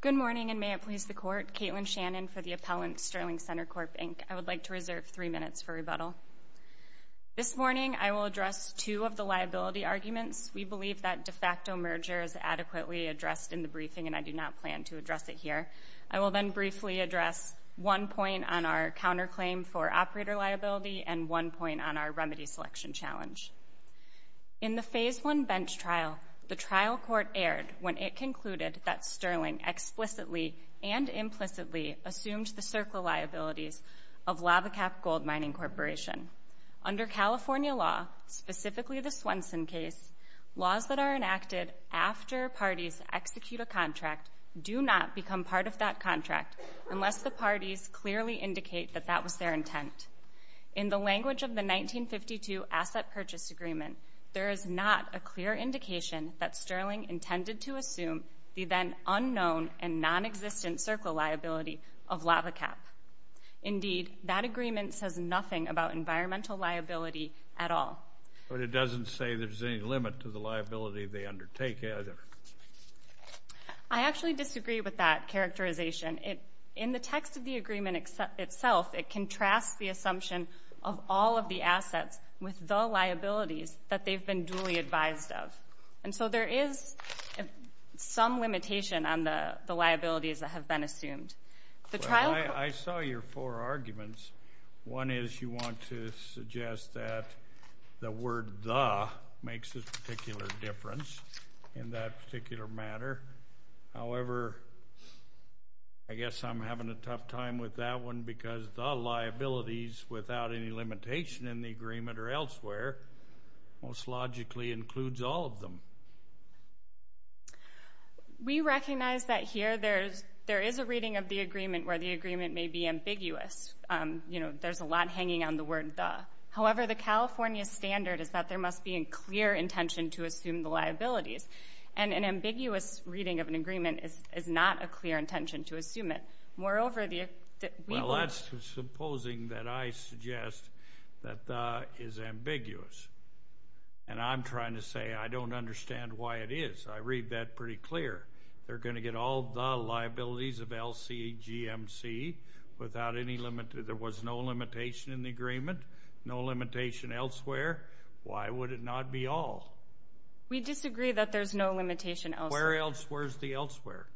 Good morning and may it please the Court, Caitlin Shannon for the Appellant, Sterling Centrecorp Inc. I would like to reserve three minutes for rebuttal. This morning I will address two of the liability arguments. We believe that de facto merger is adequately addressed in the briefing and I do not plan to address it here. I will then briefly address one point on our counterclaim for operator liability and one point on our remedy selection challenge. In the Phase I bench trial, the trial court erred when it concluded that Sterling explicitly and implicitly assumed the circle liabilities of Lava Cap Gold Mining Corporation. Under California law, specifically the Swenson case, laws that are enacted after parties execute a contract do not become part of that contract unless the parties clearly indicate that that was their intent. In the language of the 1952 Asset Purchase Agreement, there is not a clear indication that Sterling intended to assume the then unknown and non-existent circle liability of Lava Cap. Indeed, that agreement says nothing about environmental liability at all. But it doesn't say there's any limit to the liability they undertake either. I actually disagree with that characterization. In the text of the agreement itself, it contrasts the assumption of all of the assets with the liabilities that they've been duly advised of. And so there is some limitation on the liabilities that have been assumed. The trial court... Well, I saw your four arguments. One is you want to suggest that the word the makes a particular difference in that particular matter. However, I guess I'm having a tough time with that one because the liabilities, without any limitation in the agreement or elsewhere, most logically includes all of them. We recognize that here there is a reading of the agreement where the agreement may be ambiguous. You know, there's a lot hanging on the word the. However, the California standard is that there must be a clear intention to assume the liabilities. And an ambiguous reading of an agreement is not a clear intention to assume it. Moreover, the... Well, that's supposing that I suggest that the is ambiguous. And I'm trying to say I don't understand why it is. I read that pretty clear. They're going to get all the liabilities of LCGMC without any limit. There was no limitation in the agreement, no limitation elsewhere. Why would it not be all? We disagree that there's no limitation elsewhere. Where else? Where's the elsewhere?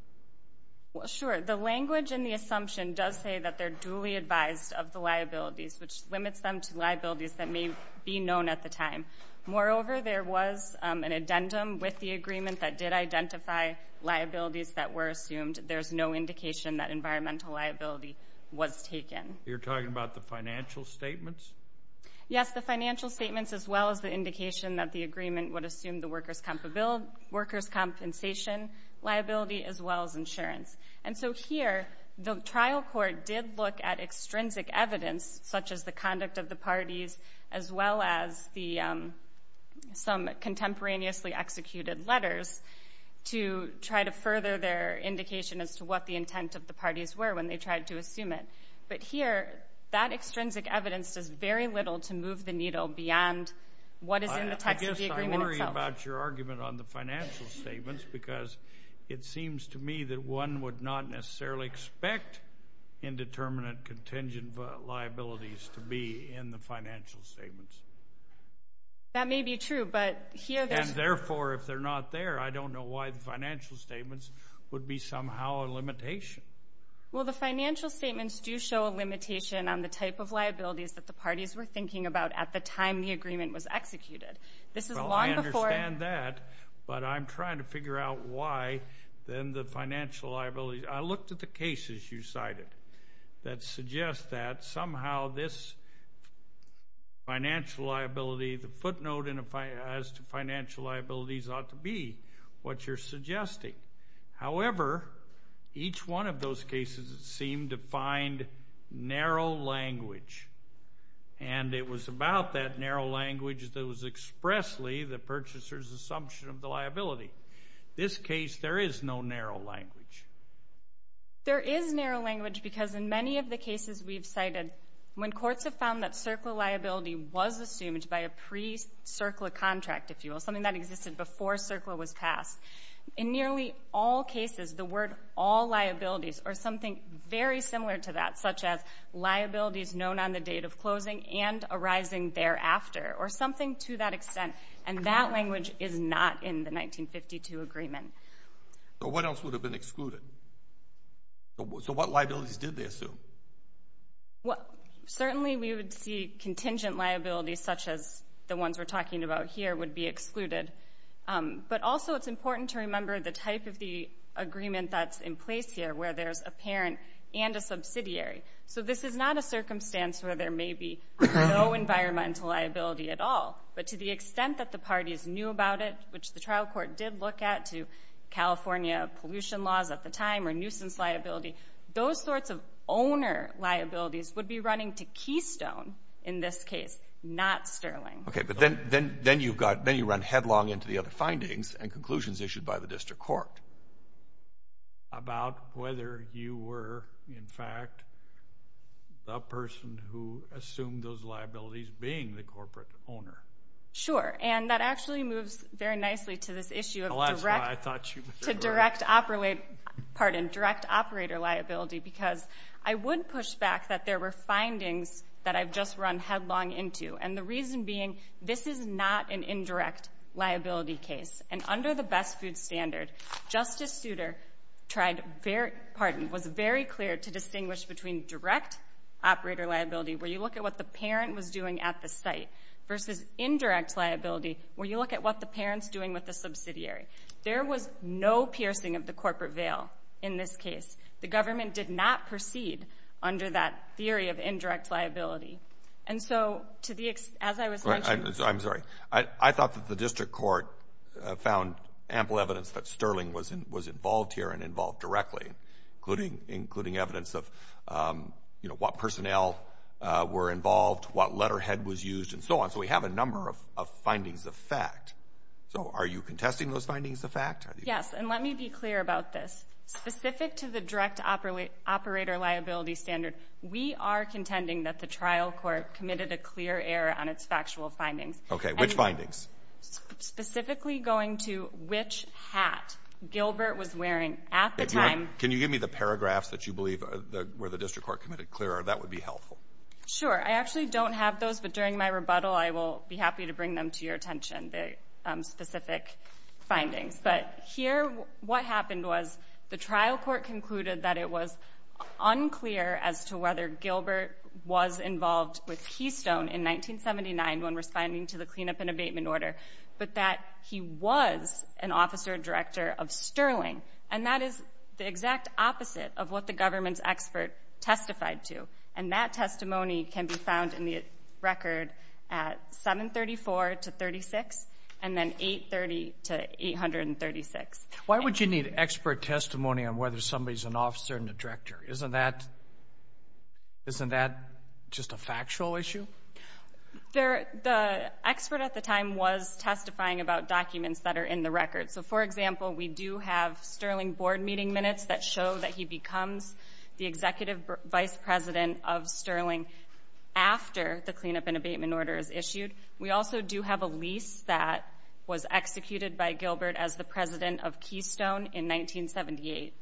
Well, sure. The language and the assumption does say that they're duly advised of the liabilities, which limits them to liabilities that may be known at the time. Moreover, there was an addendum with the agreement that did identify liabilities that were assumed. There's no indication that environmental liability was taken. You're talking about the financial statements? Yes, the financial statements as well as the indication that the agreement would assume the workers' compensation liability as well as insurance. And so here, the trial court did look at extrinsic evidence, such as the conduct of the parties as well as some contemporaneously executed letters, to try to further their indication as to what the intent of the parties were when they tried to assume it. But here, that extrinsic evidence does very little to move the needle beyond what is in the text of the agreement itself. I guess I worry about your argument on the financial statements because it seems to me that one would not necessarily expect indeterminate contingent liabilities to be in the financial statements. That may be true, but here there's... And therefore, if they're not there, I don't know why the financial statements would be somehow a limitation. Well, the financial statements do show a limitation on the type of liabilities that the parties were thinking about at the time the agreement was executed. This is long before... Well, I understand that, but I'm trying to figure out why then the financial liabilities... I looked at the cases you cited that suggest that somehow this financial liability, the footnote as to financial liabilities ought to be what you're suggesting. However, each one of those cases seemed to find narrow language, and it was about that narrow language that was expressly the purchaser's assumption of the liability. This case, there is no narrow language. There is narrow language because in many of the cases we've cited, when courts have found that CERCLA liability was assumed by a pre-CERCLA contract, if you will, something that existed before CERCLA was passed, in nearly all cases, the word all liabilities or something very similar to that, such as liabilities known on the date of closing and arising thereafter, or something to that extent, and that language is not in the 1952 agreement. What else would have been excluded? So what liabilities did they assume? Well, certainly we would see contingent liabilities such as the ones we're talking about here would be excluded. But also it's important to remember the type of the agreement that's in place here where there's a parent and a subsidiary. So this is not a circumstance where there may be no environmental liability at all. But to the extent that the parties knew about it, which the trial court did look at to California pollution laws at the time or nuisance liability, those sorts of owner liabilities would be running to Keystone in this case, not Sterling. Okay, but then you run headlong into the other findings and conclusions issued by the district court. About whether you were, in fact, the person who assumed those liabilities being the corporate owner. Sure, and that actually moves very nicely to this issue of direct operator liability because I would push back that there were findings that I've just run headlong into. And the reason being, this is not an indirect liability case. And under the best food standard, Justice Souter tried, pardon, was very clear to distinguish between direct operator liability where you look at what the parent was doing at the site versus indirect liability where you look at what the parent's doing with the subsidiary. There was no piercing of the corporate veil in this case. The government did not proceed under that theory of indirect liability. And so, to the extent, as I was mentioning. I'm sorry. I thought that the district court found ample evidence that Sterling was involved here and involved directly, including evidence of what personnel were involved, what letterhead was used, and so on. So we have a number of findings of fact. So are you contesting those findings of fact? Yes, and let me be clear about this. Specific to the direct operator liability standard, we are contending that the trial court committed a clear error on its factual findings. Okay. Which findings? Specifically going to which hat Gilbert was wearing at the time. Can you give me the paragraphs that you believe where the district court committed clear error? That would be helpful. Sure. I actually don't have those. But during my rebuttal, I will be happy to bring them to your attention, the specific findings. But here, what happened was the trial court concluded that it was unclear as to whether Gilbert was involved with Keystone in 1979 when responding to the cleanup and abatement order, but that he was an officer director of Sterling. And that is the exact opposite of what the government's expert testified to. And that testimony can be found in the record at 734 to 36, and then 830 to 836. Why would you need expert testimony on whether somebody's an officer and a director? Isn't that just a factual issue? The expert at the time was testifying about documents that are in the record. So for example, we do have Sterling board meeting minutes that show that he becomes the executive vice president of Sterling after the cleanup and abatement order is issued. We also do have a lease that was executed by Gilbert as the president of Keystone in 1978.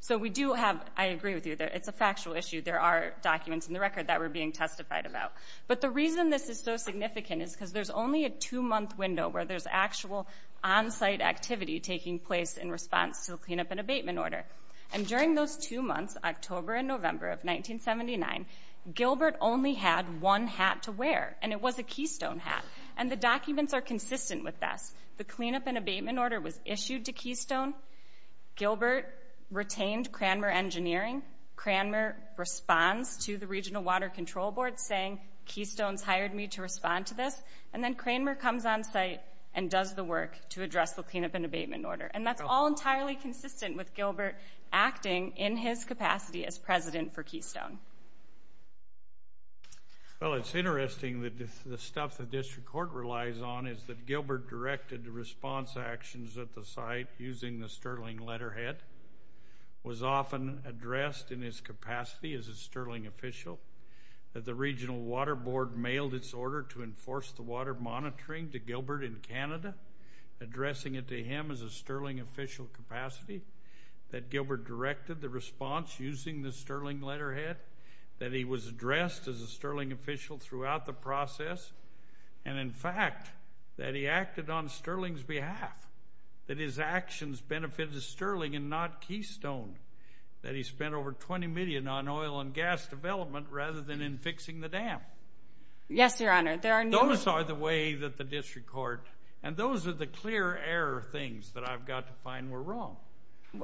So we do have, I agree with you, it's a factual issue. There are documents in the record that were being testified about. But the reason this is so significant is because there's only a two-month window where there's actual on-site activity taking place in response to the cleanup and abatement order. And during those two months, October and November of 1979, Gilbert only had one hat to wear, and it was a Keystone hat. And the documents are consistent with this. The cleanup and abatement order was issued to Keystone. Gilbert retained Cranmer Engineering. Cranmer responds to the Regional Water Control Board saying, Keystone's hired me to respond to this. And then Cranmer comes on site and does the work to address the cleanup and abatement order. And that's all entirely consistent with Gilbert acting, in his capacity, as president for Keystone. Well, it's interesting that the stuff the district court relies on is that Gilbert directed response actions at the site using the Sterling letterhead, was often addressed in his capacity as a Sterling official, that the Regional Water Board mailed its order to enforce the monitoring to Gilbert in Canada, addressing it to him as a Sterling official capacity, that Gilbert directed the response using the Sterling letterhead, that he was addressed as a Sterling official throughout the process, and in fact, that he acted on Sterling's behalf, that his actions benefited Sterling and not Keystone, that he spent over $20 million on oil and gas development rather than in fixing the dam. Yes, Your Honor. Those are the ways that the district court, and those are the clear error things that I've got to find were wrong.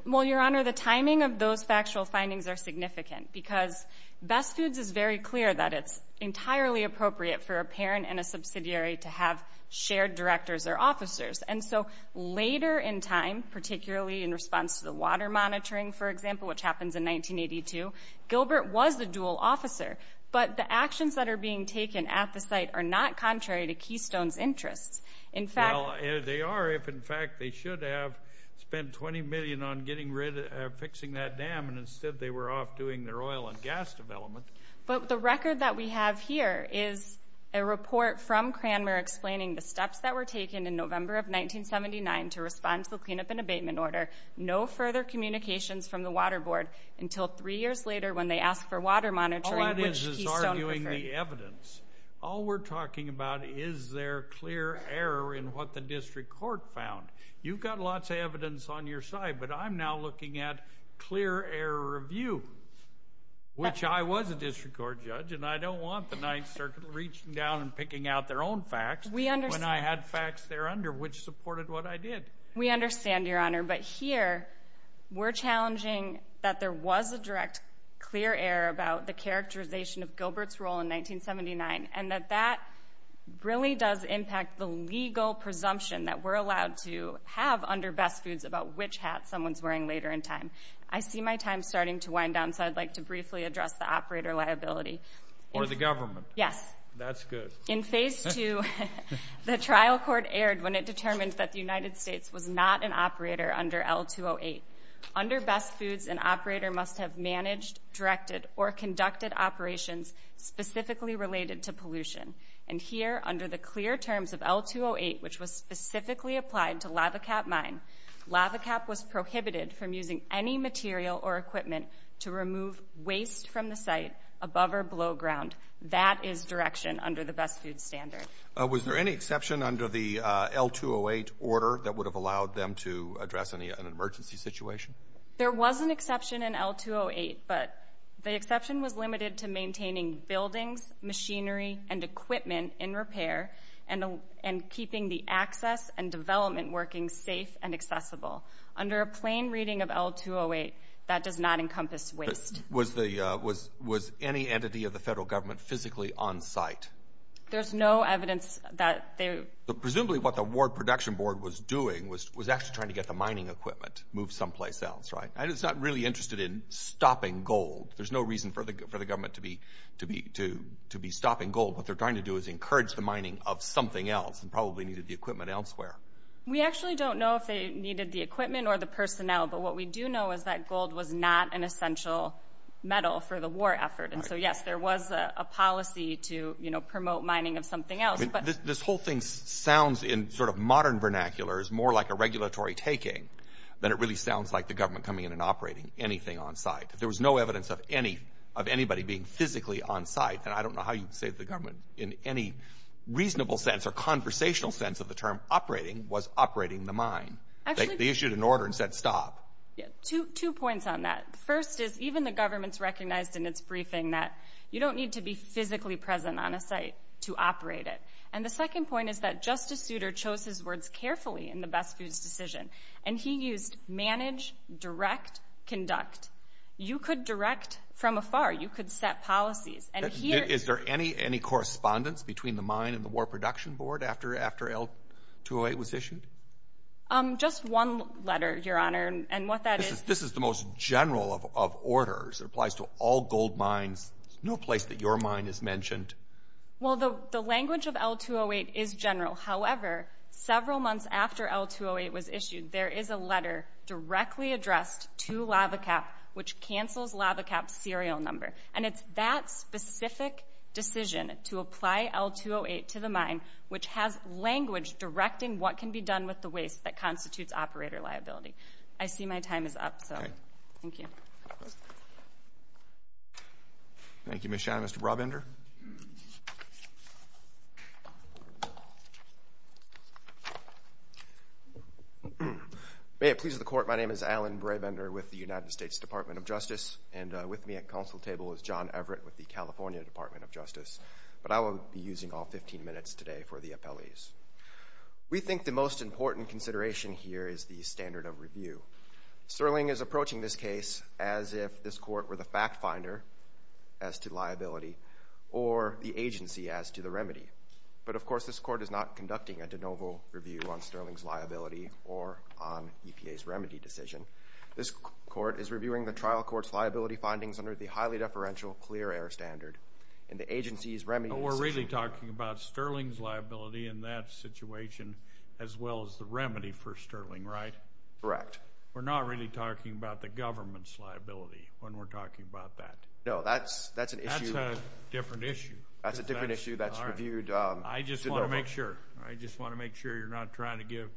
Well, Your Honor, the timing of those factual findings are significant, because Best Foods is very clear that it's entirely appropriate for a parent and a subsidiary to have shared directors or officers. And so later in time, particularly in response to the water monitoring, for example, which happens in 1982, Gilbert was the dual officer. But the actions that are being taken at the site are not contrary to Keystone's interests. In fact... Well, they are, if in fact they should have spent $20 million on getting rid of fixing that dam, and instead they were off doing their oil and gas development. But the record that we have here is a report from Cranmer explaining the steps that were taken in November of 1979 to respond to the cleanup and abatement order, no further communications from the Water Board until three years later when they asked for water monitoring, which Keystone preferred. All that is is arguing the evidence. All we're talking about is their clear error in what the district court found. You've got lots of evidence on your side, but I'm now looking at clear error review, which I was a district court judge, and I don't want the Ninth Circuit reaching down and picking out their own facts when I had facts there under which supported what I did. We understand, Your Honor, but here we're challenging that there was a direct clear error about the characterization of Gilbert's role in 1979, and that that really does impact the legal presumption that we're allowed to have under best foods about which hat someone's wearing later in time. I see my time starting to wind down, so I'd like to briefly address the operator liability. Or the government. Yes. That's good. In phase two, the trial court erred when it determined that the United States was not an operator under L-208. Under best foods, an operator must have managed, directed, or conducted operations specifically related to pollution. And here, under the clear terms of L-208, which was specifically applied to Lava Cap Mine, Lava Cap was prohibited from using any material or equipment to remove waste from the site above or below ground. That is direction under the best foods standard. Was there any exception under the L-208 order that would have allowed them to address an emergency situation? There was an exception in L-208, but the exception was limited to maintaining buildings, machinery, and equipment in repair, and keeping the access and development working safe and accessible. Under a plain reading of L-208, that does not encompass waste. Was any entity of the federal government physically on site? There's no evidence that they... Presumably what the Ward Production Board was doing was actually trying to get the mining equipment moved someplace else, right? It's not really interested in stopping gold. There's no reason for the government to be stopping gold. What they're trying to do is encourage the mining of something else, and probably needed the equipment elsewhere. We actually don't know if they needed the equipment or the personnel, but what we do know is that gold was not an essential metal for the war effort. And so, yes, there was a policy to promote mining of something else. This whole thing sounds in sort of modern vernacular is more like a regulatory taking than it really sounds like the government coming in and operating anything on site. There was no evidence of anybody being physically on site, and I don't know how you'd say the government in any reasonable sense or conversational sense of the term operating was operating the mine. They issued an order and said, stop. Two points on that. The first is even the government's recognized in its briefing that you don't need to be physically present on a site to operate it. And the second point is that Justice Souter chose his words carefully in the Best Foods decision, and he used manage, direct, conduct. You could direct from afar. You could set policies. Is there any correspondence between the mine and the Ward Production Board after L-208 was issued? Just one letter, Your Honor, and what that is... This is the most general of orders. It applies to all gold mines. There's no place that your mine is mentioned. Well, the language of L-208 is general. However, several months after L-208 was issued, there is a letter directly addressed to LavaCap which cancels LavaCap's serial number. And it's that specific decision to apply L-208 to the mine, which has language directing what can be done with the waste that constitutes operator liability. I see my time is up, so thank you. Thank you, Ms. Schein. Mr. Brabender? May it please the Court, my name is Alan Brabender with the United States Department of Justice, and with me at counsel table is John Everett with the California Department of Justice. But I will be using all 15 minutes today for the appellees. We think the most important consideration here is the standard of review. Sterling is approaching this case as if this Court were the fact finder as to liability or the agency as to the remedy. But of course, this Court is not conducting a de novo review on Sterling's liability or on EPA's remedy decision. This Court is reviewing the trial court's liability findings under the highly deferential clear error standard, and the agency's remedy decision... as well as the remedy for Sterling, right? Correct. We're not really talking about the government's liability when we're talking about that? No, that's an issue... That's a different issue. That's a different issue that's reviewed... I just want to make sure. I just want to make sure you're not trying to give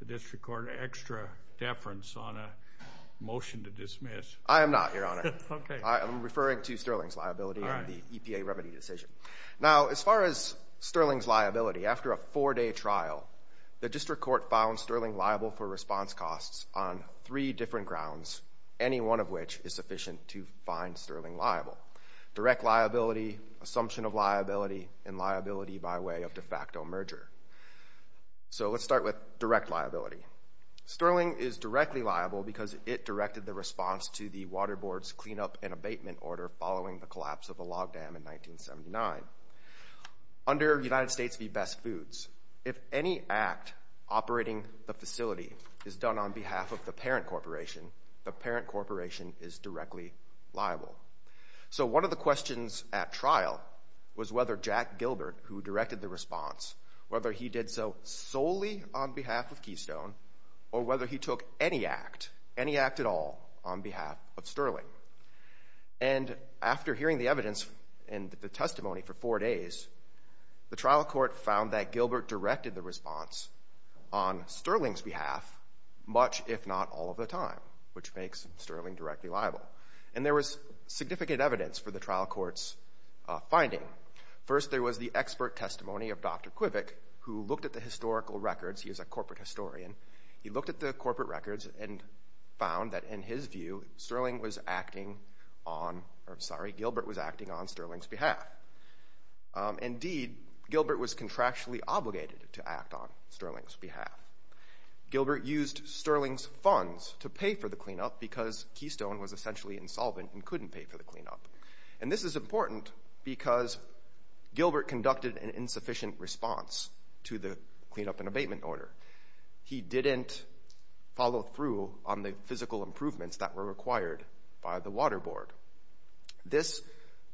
the District Court extra deference on a motion to dismiss. I am not, Your Honor. Okay. I am referring to Sterling's liability and the EPA remedy decision. Now, as far as Sterling's liability, after a four-day trial, the District Court found Sterling liable for response costs on three different grounds, any one of which is sufficient to find Sterling liable. Direct liability, assumption of liability, and liability by way of de facto merger. So let's start with direct liability. Sterling is directly liable because it directed the response to the Water Board's cleanup and abatement order following the collapse of the log dam in 1979. Under United States v. Best Foods, if any act operating the facility is done on behalf of the parent corporation, the parent corporation is directly liable. So one of the questions at trial was whether Jack Gilbert, who directed the response, whether he did so solely on behalf of Keystone or whether he took any act, any act at all, on behalf of Sterling. And after hearing the evidence and the testimony for four days, the trial court found that Gilbert directed the response on Sterling's behalf much, if not all of the time, which makes Sterling directly liable. And there was significant evidence for the trial court's finding. First, there was the expert testimony of Dr. Quivik, who looked at the historical records. He is a corporate historian. He looked at the corporate records and found that, in his view, Sterling was acting on or, sorry, Gilbert was acting on Sterling's behalf. Indeed, Gilbert was contractually obligated to act on Sterling's behalf. Gilbert used Sterling's funds to pay for the cleanup because Keystone was essentially insolvent and couldn't pay for the cleanup. And this is important because Gilbert conducted an insufficient response to the cleanup and abatement order. He didn't follow through on the physical improvements that were required by the Water Board. This,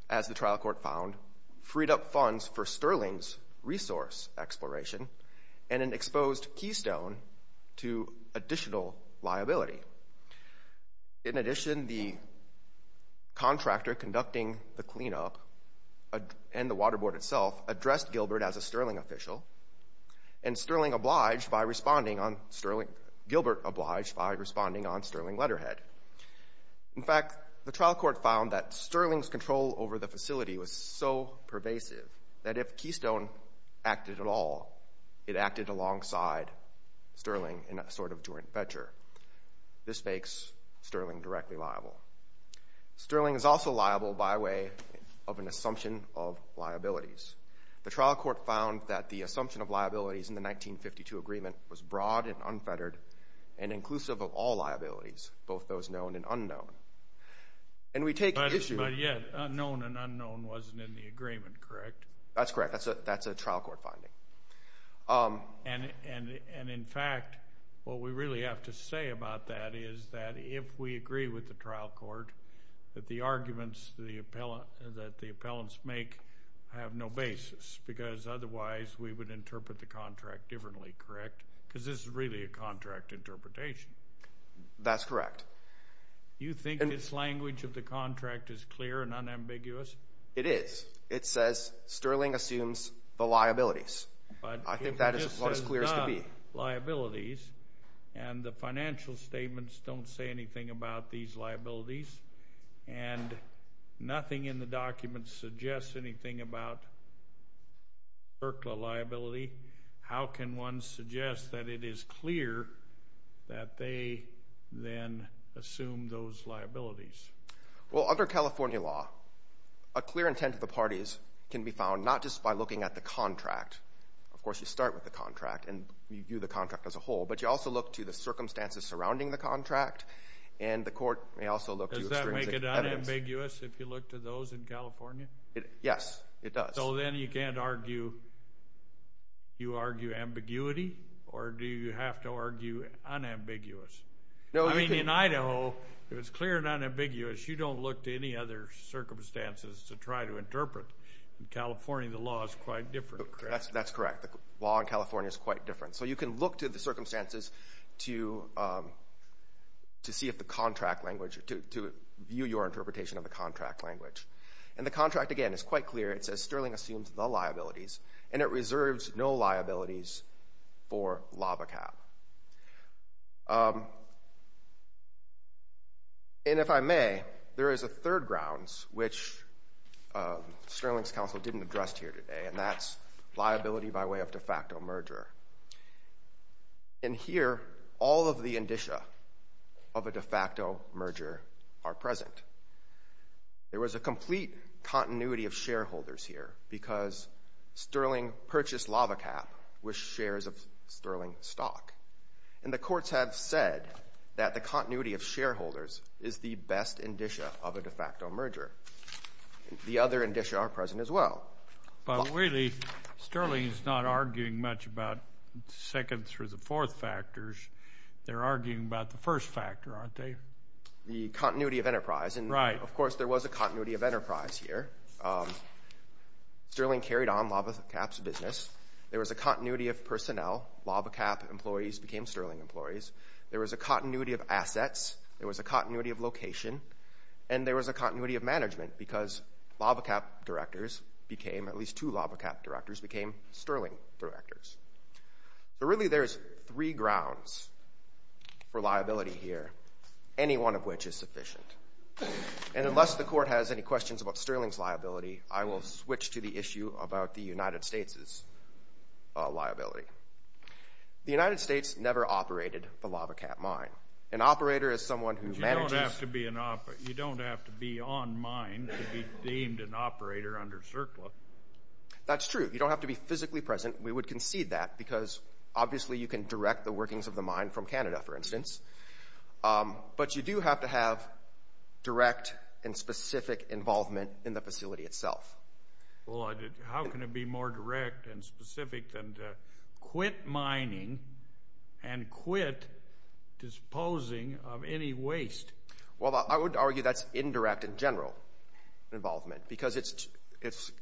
as the trial court found, freed up funds for Sterling's resource exploration and exposed Keystone to additional liability. In addition, the contractor conducting the cleanup and the Water Board itself addressed Gilbert as a Sterling official. And Sterling obliged by responding on Sterling, Gilbert obliged by responding on Sterling letterhead. In fact, the trial court found that Sterling's control over the facility was so pervasive that if Keystone acted at all, it acted alongside Sterling in a sort of joint venture. This makes Sterling directly liable. Sterling is also liable by way of an assumption of liabilities. The trial court found that the assumption of liabilities in the 1952 agreement was broad and unfettered and inclusive of all liabilities, both those known and unknown. But yet, unknown and unknown wasn't in the agreement, correct? That's correct. That's a trial court finding. And in fact, what we really have to say about that is that if we agree with the trial court that the arguments that the appellants make have no basis because otherwise we would interpret the contract differently, correct? Because this is really a contract interpretation. That's correct. You think this language of the contract is clear and unambiguous? It is. It says Sterling assumes the liabilities. I think that is as clear as can be. And the financial statements don't say anything about these liabilities. And nothing in the documents suggests anything about CERCLA liability. How can one suggest that it is clear that they then assume those liabilities? Well, under California law, a clear intent of the parties can be found not just by looking at the contract. Of course, you start with the contract and review the contract as a whole, but you also look to the circumstances surrounding the contract, and the court may also look to extrinsic evidence. Does that make it unambiguous if you look to those in California? Yes, it does. So then you can't argue. You argue ambiguity, or do you have to argue unambiguous? I mean, in Idaho, if it's clear and unambiguous, you don't look to any other circumstances to try to interpret. In California, the law is quite different. That's correct. The law in California is quite different. So you can look to the circumstances to see if the contract language, to view your interpretation of the contract language. And the contract, again, is quite clear. It says Sterling assumes the liabilities, and it reserves no liabilities for LAVACAP. And if I may, there is a third grounds, which Sterling's counsel didn't address here today, and that's liability by way of de facto merger. In here, all of the indicia of a de facto merger are present. There was a complete continuity of shareholders here because Sterling purchased LAVACAP with shares of Sterling stock. And the courts have said that the continuity of shareholders is the best indicia of a de facto merger. The other indicia are present as well. But really, Sterling is not arguing much about second through the fourth factors. They're arguing about the first factor, aren't they? The continuity of enterprise. And, of course, there was a continuity of enterprise here. Sterling carried on LAVACAP's business. There was a continuity of personnel. LAVACAP employees became Sterling employees. There was a continuity of assets. There was a continuity of location. And there was a continuity of management because LAVACAP directors became, at least two LAVACAP directors became Sterling directors. So really there's three grounds for liability here, any one of which is sufficient. And unless the court has any questions about Sterling's liability, I will switch to the issue about the United States' liability. The United States never operated the LAVACAP mine. An operator is someone who manages. But you don't have to be on mine to be deemed an operator under CERCLA. That's true. You don't have to be physically present. We would concede that because, obviously, you can direct the workings of the mine from Canada, for instance. But you do have to have direct and specific involvement in the facility itself. Well, how can it be more direct and specific than to quit mining and quit disposing of any waste? Well, I would argue that's indirect in general involvement because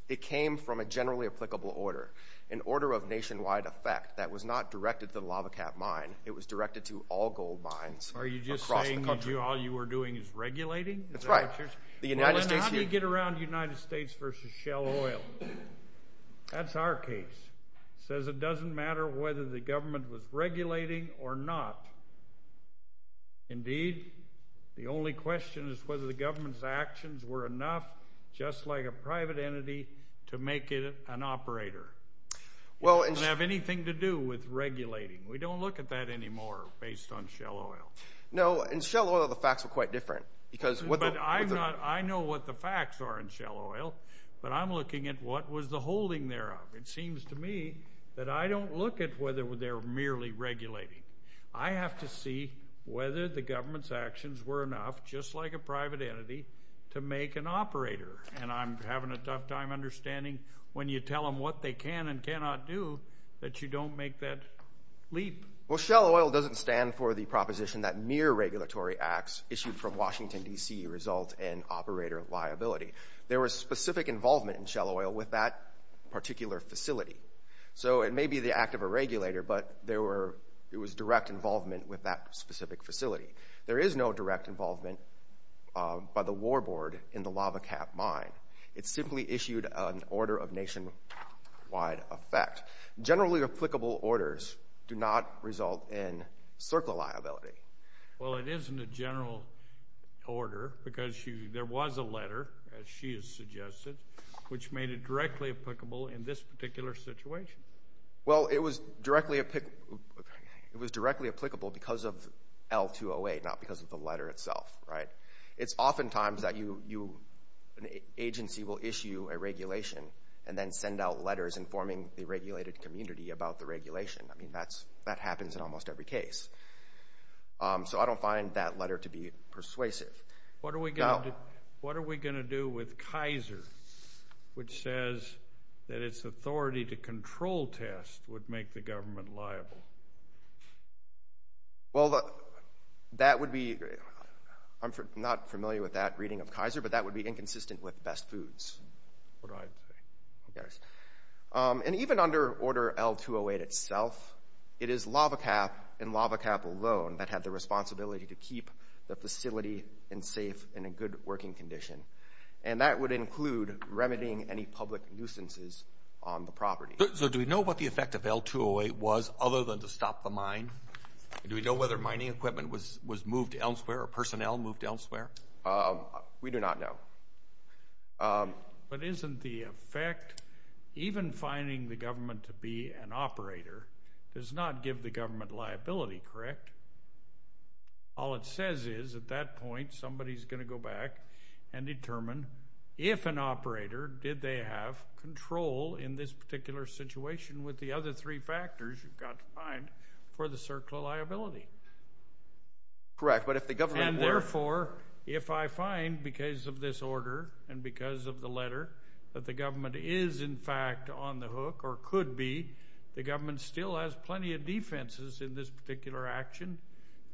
it came from a generally applicable order, an order of nationwide effect that was not directed to the LAVACAP mine. It was directed to all gold mines across the country. Are you just saying all you were doing is regulating? That's right. How do you get around United States versus Shell Oil? That's our case. It says it doesn't matter whether the government was regulating or not. Indeed, the only question is whether the government's actions were enough, just like a private entity, to make it an operator. It doesn't have anything to do with regulating. We don't look at that anymore based on Shell Oil. No, in Shell Oil the facts are quite different. I know what the facts are in Shell Oil, but I'm looking at what was the holding thereof. It seems to me that I don't look at whether they were merely regulating. I have to see whether the government's actions were enough, just like a private entity, to make an operator. And I'm having a tough time understanding when you tell them what they can and cannot do that you don't make that leap. Well, Shell Oil doesn't stand for the proposition that mere regulatory acts issued from Washington, D.C., result in operator liability. There was specific involvement in Shell Oil with that particular facility. So it may be the act of a regulator, but there was direct involvement with that specific facility. There is no direct involvement by the warboard in the Lava Cap Mine. It simply issued an order of nationwide effect. Generally applicable orders do not result in circle liability. Well, it isn't a general order because there was a letter, as she has suggested, which made it directly applicable in this particular situation. Well, it was directly applicable because of L-208, not because of the letter itself. It's oftentimes that an agency will issue a regulation and then send out letters informing the regulated community about the regulation. I mean, that happens in almost every case. So I don't find that letter to be persuasive. What are we going to do with Kaiser, which says that its authority to control tests would make the government liable? Well, that would be, I'm not familiar with that reading of Kaiser, but that would be inconsistent with best foods. What I'd say. And even under Order L-208 itself, it is Lava Cap and Lava Cap alone that have the responsibility to keep the facility safe and in good working condition, and that would include remedying any public nuisances on the property. So do we know what the effect of L-208 was other than to stop the mine? Do we know whether mining equipment was moved elsewhere or personnel moved elsewhere? We do not know. But isn't the effect, even finding the government to be an operator, does not give the government liability, correct? All it says is at that point somebody is going to go back and determine if an operator did they have control in this particular situation with the other three factors you've got to find for the circular liability. Correct. And therefore, if I find because of this order and because of the letter that the government is in fact on the hook or could be, the government still has plenty of defenses in this particular action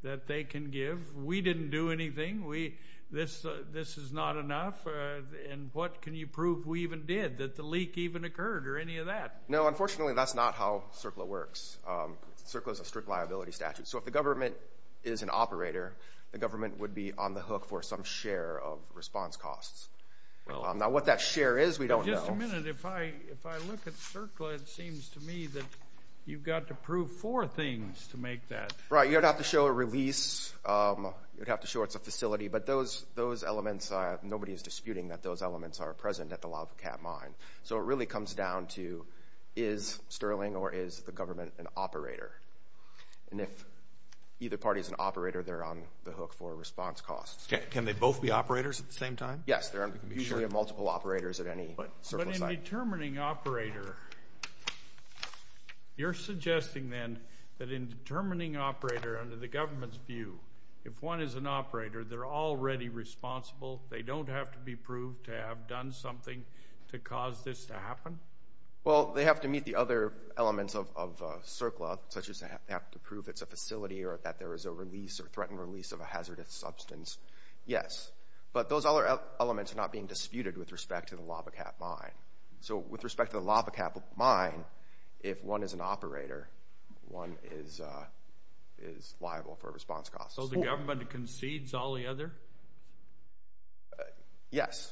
that they can give. We didn't do anything. This is not enough. And what can you prove we even did, that the leak even occurred or any of that? No, unfortunately, that's not how CERCLA works. CERCLA is a strict liability statute. So if the government is an operator, the government would be on the hook for some share of response costs. Now what that share is we don't know. Just a minute. If I look at CERCLA, it seems to me that you've got to prove four things to make that. Right. You'd have to show a release. You'd have to show it's a facility. But those elements, nobody is disputing that those elements are present at the Lavacat mine. So it really comes down to is Sterling or is the government an operator? And if either party is an operator, they're on the hook for response costs. Can they both be operators at the same time? Yes. There are usually multiple operators at any CERCLA site. But in determining operator, you're suggesting then that in determining operator under the government's view, if one is an operator, they're already responsible. They don't have to be proved to have done something to cause this to happen? Well, they have to meet the other elements of CERCLA, such as they have to prove it's a facility or that there is a release or threatened release of a hazardous substance. Yes. But those other elements are not being disputed with respect to the Lavacat mine. So with respect to the Lavacat mine, if one is an operator, one is liable for response costs. So the government concedes all the other? Yes.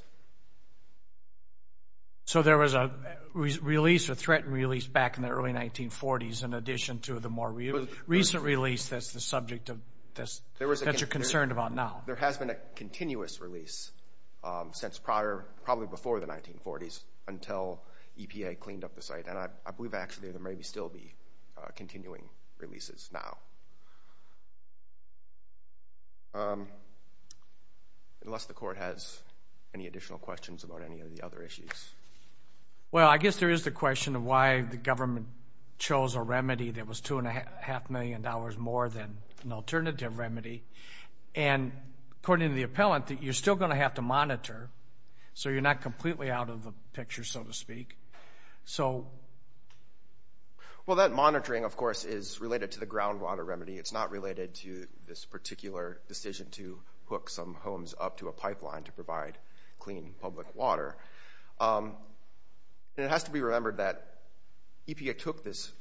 So there was a release or threatened release back in the early 1940s in addition to the more recent release that's the subject that you're concerned about now? There has been a continuous release since probably before the 1940s until EPA cleaned up the site. And I believe actually there may still be continuing releases now. Unless the court has any additional questions about any of the other issues. Well, I guess there is the question of why the government chose a remedy that was $2.5 million more than an alternative remedy. And according to the appellant, you're still going to have to monitor, so you're not completely out of the picture, so to speak. Well, that monitoring, of course, is related to the groundwater remedy. It's not related to this particular decision to hook some homes up to a pipeline to provide clean public water. And it has to be remembered that EPA took this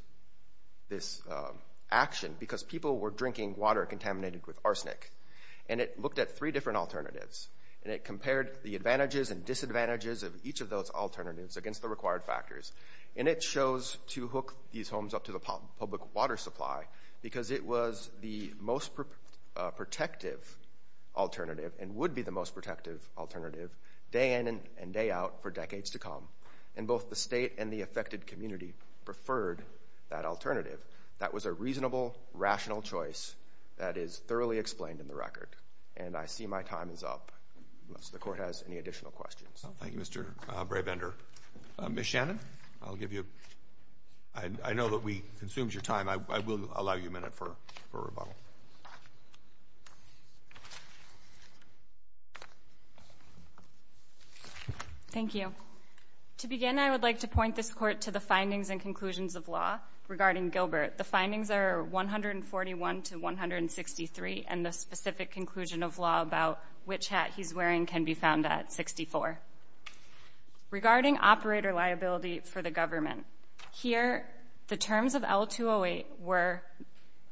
action because people were drinking water contaminated with arsenic. And it looked at three different alternatives. And it compared the advantages and disadvantages of each of those alternatives against the required factors. And it chose to hook these homes up to the public water supply because it was the most protective alternative and would be the most protective alternative day in and day out for decades to come. And both the state and the affected community preferred that alternative. That was a reasonable, rational choice that is thoroughly explained in the record. And I see my time is up. Unless the court has any additional questions. Thank you, Mr. Brabender. Ms. Shannon, I'll give you a minute. I know that we consumed your time. I will allow you a minute for rebuttal. Thank you. To begin, I would like to point this court to the findings and conclusions of law regarding Gilbert. The findings are 141 to 163, and the specific conclusion of law about which hat he's wearing can be found at 64. Regarding operator liability for the government, here the terms of L-208 were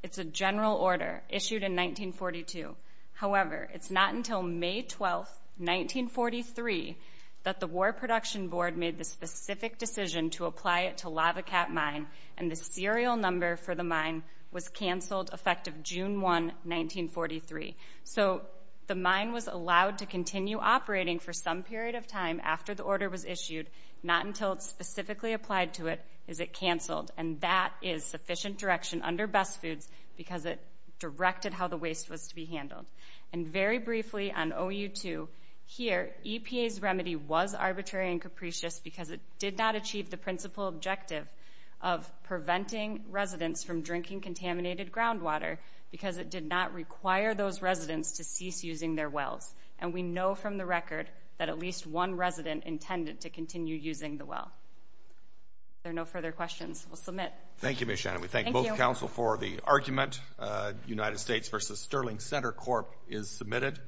it's a general order issued in 1942. However, it's not until May 12, 1943, that the War Production Board made the specific decision to apply it to Lava Cat Mine, and the serial number for the mine was canceled effective June 1, 1943. So the mine was allowed to continue operating for some period of time after the order was issued, not until it's specifically applied to it is it canceled. And that is sufficient direction under Best Foods because it directed how the waste was to be handled. And very briefly on OU2, here EPA's remedy was arbitrary and capricious because it did not achieve the principal objective of preventing residents from drinking contaminated groundwater because it did not require those residents to cease using their wells. And we know from the record that at least one resident intended to continue using the well. If there are no further questions, we'll submit. Thank you, Ms. Shannon. We thank both counsel for the argument. United States v. Sterling Center Corp. is submitted.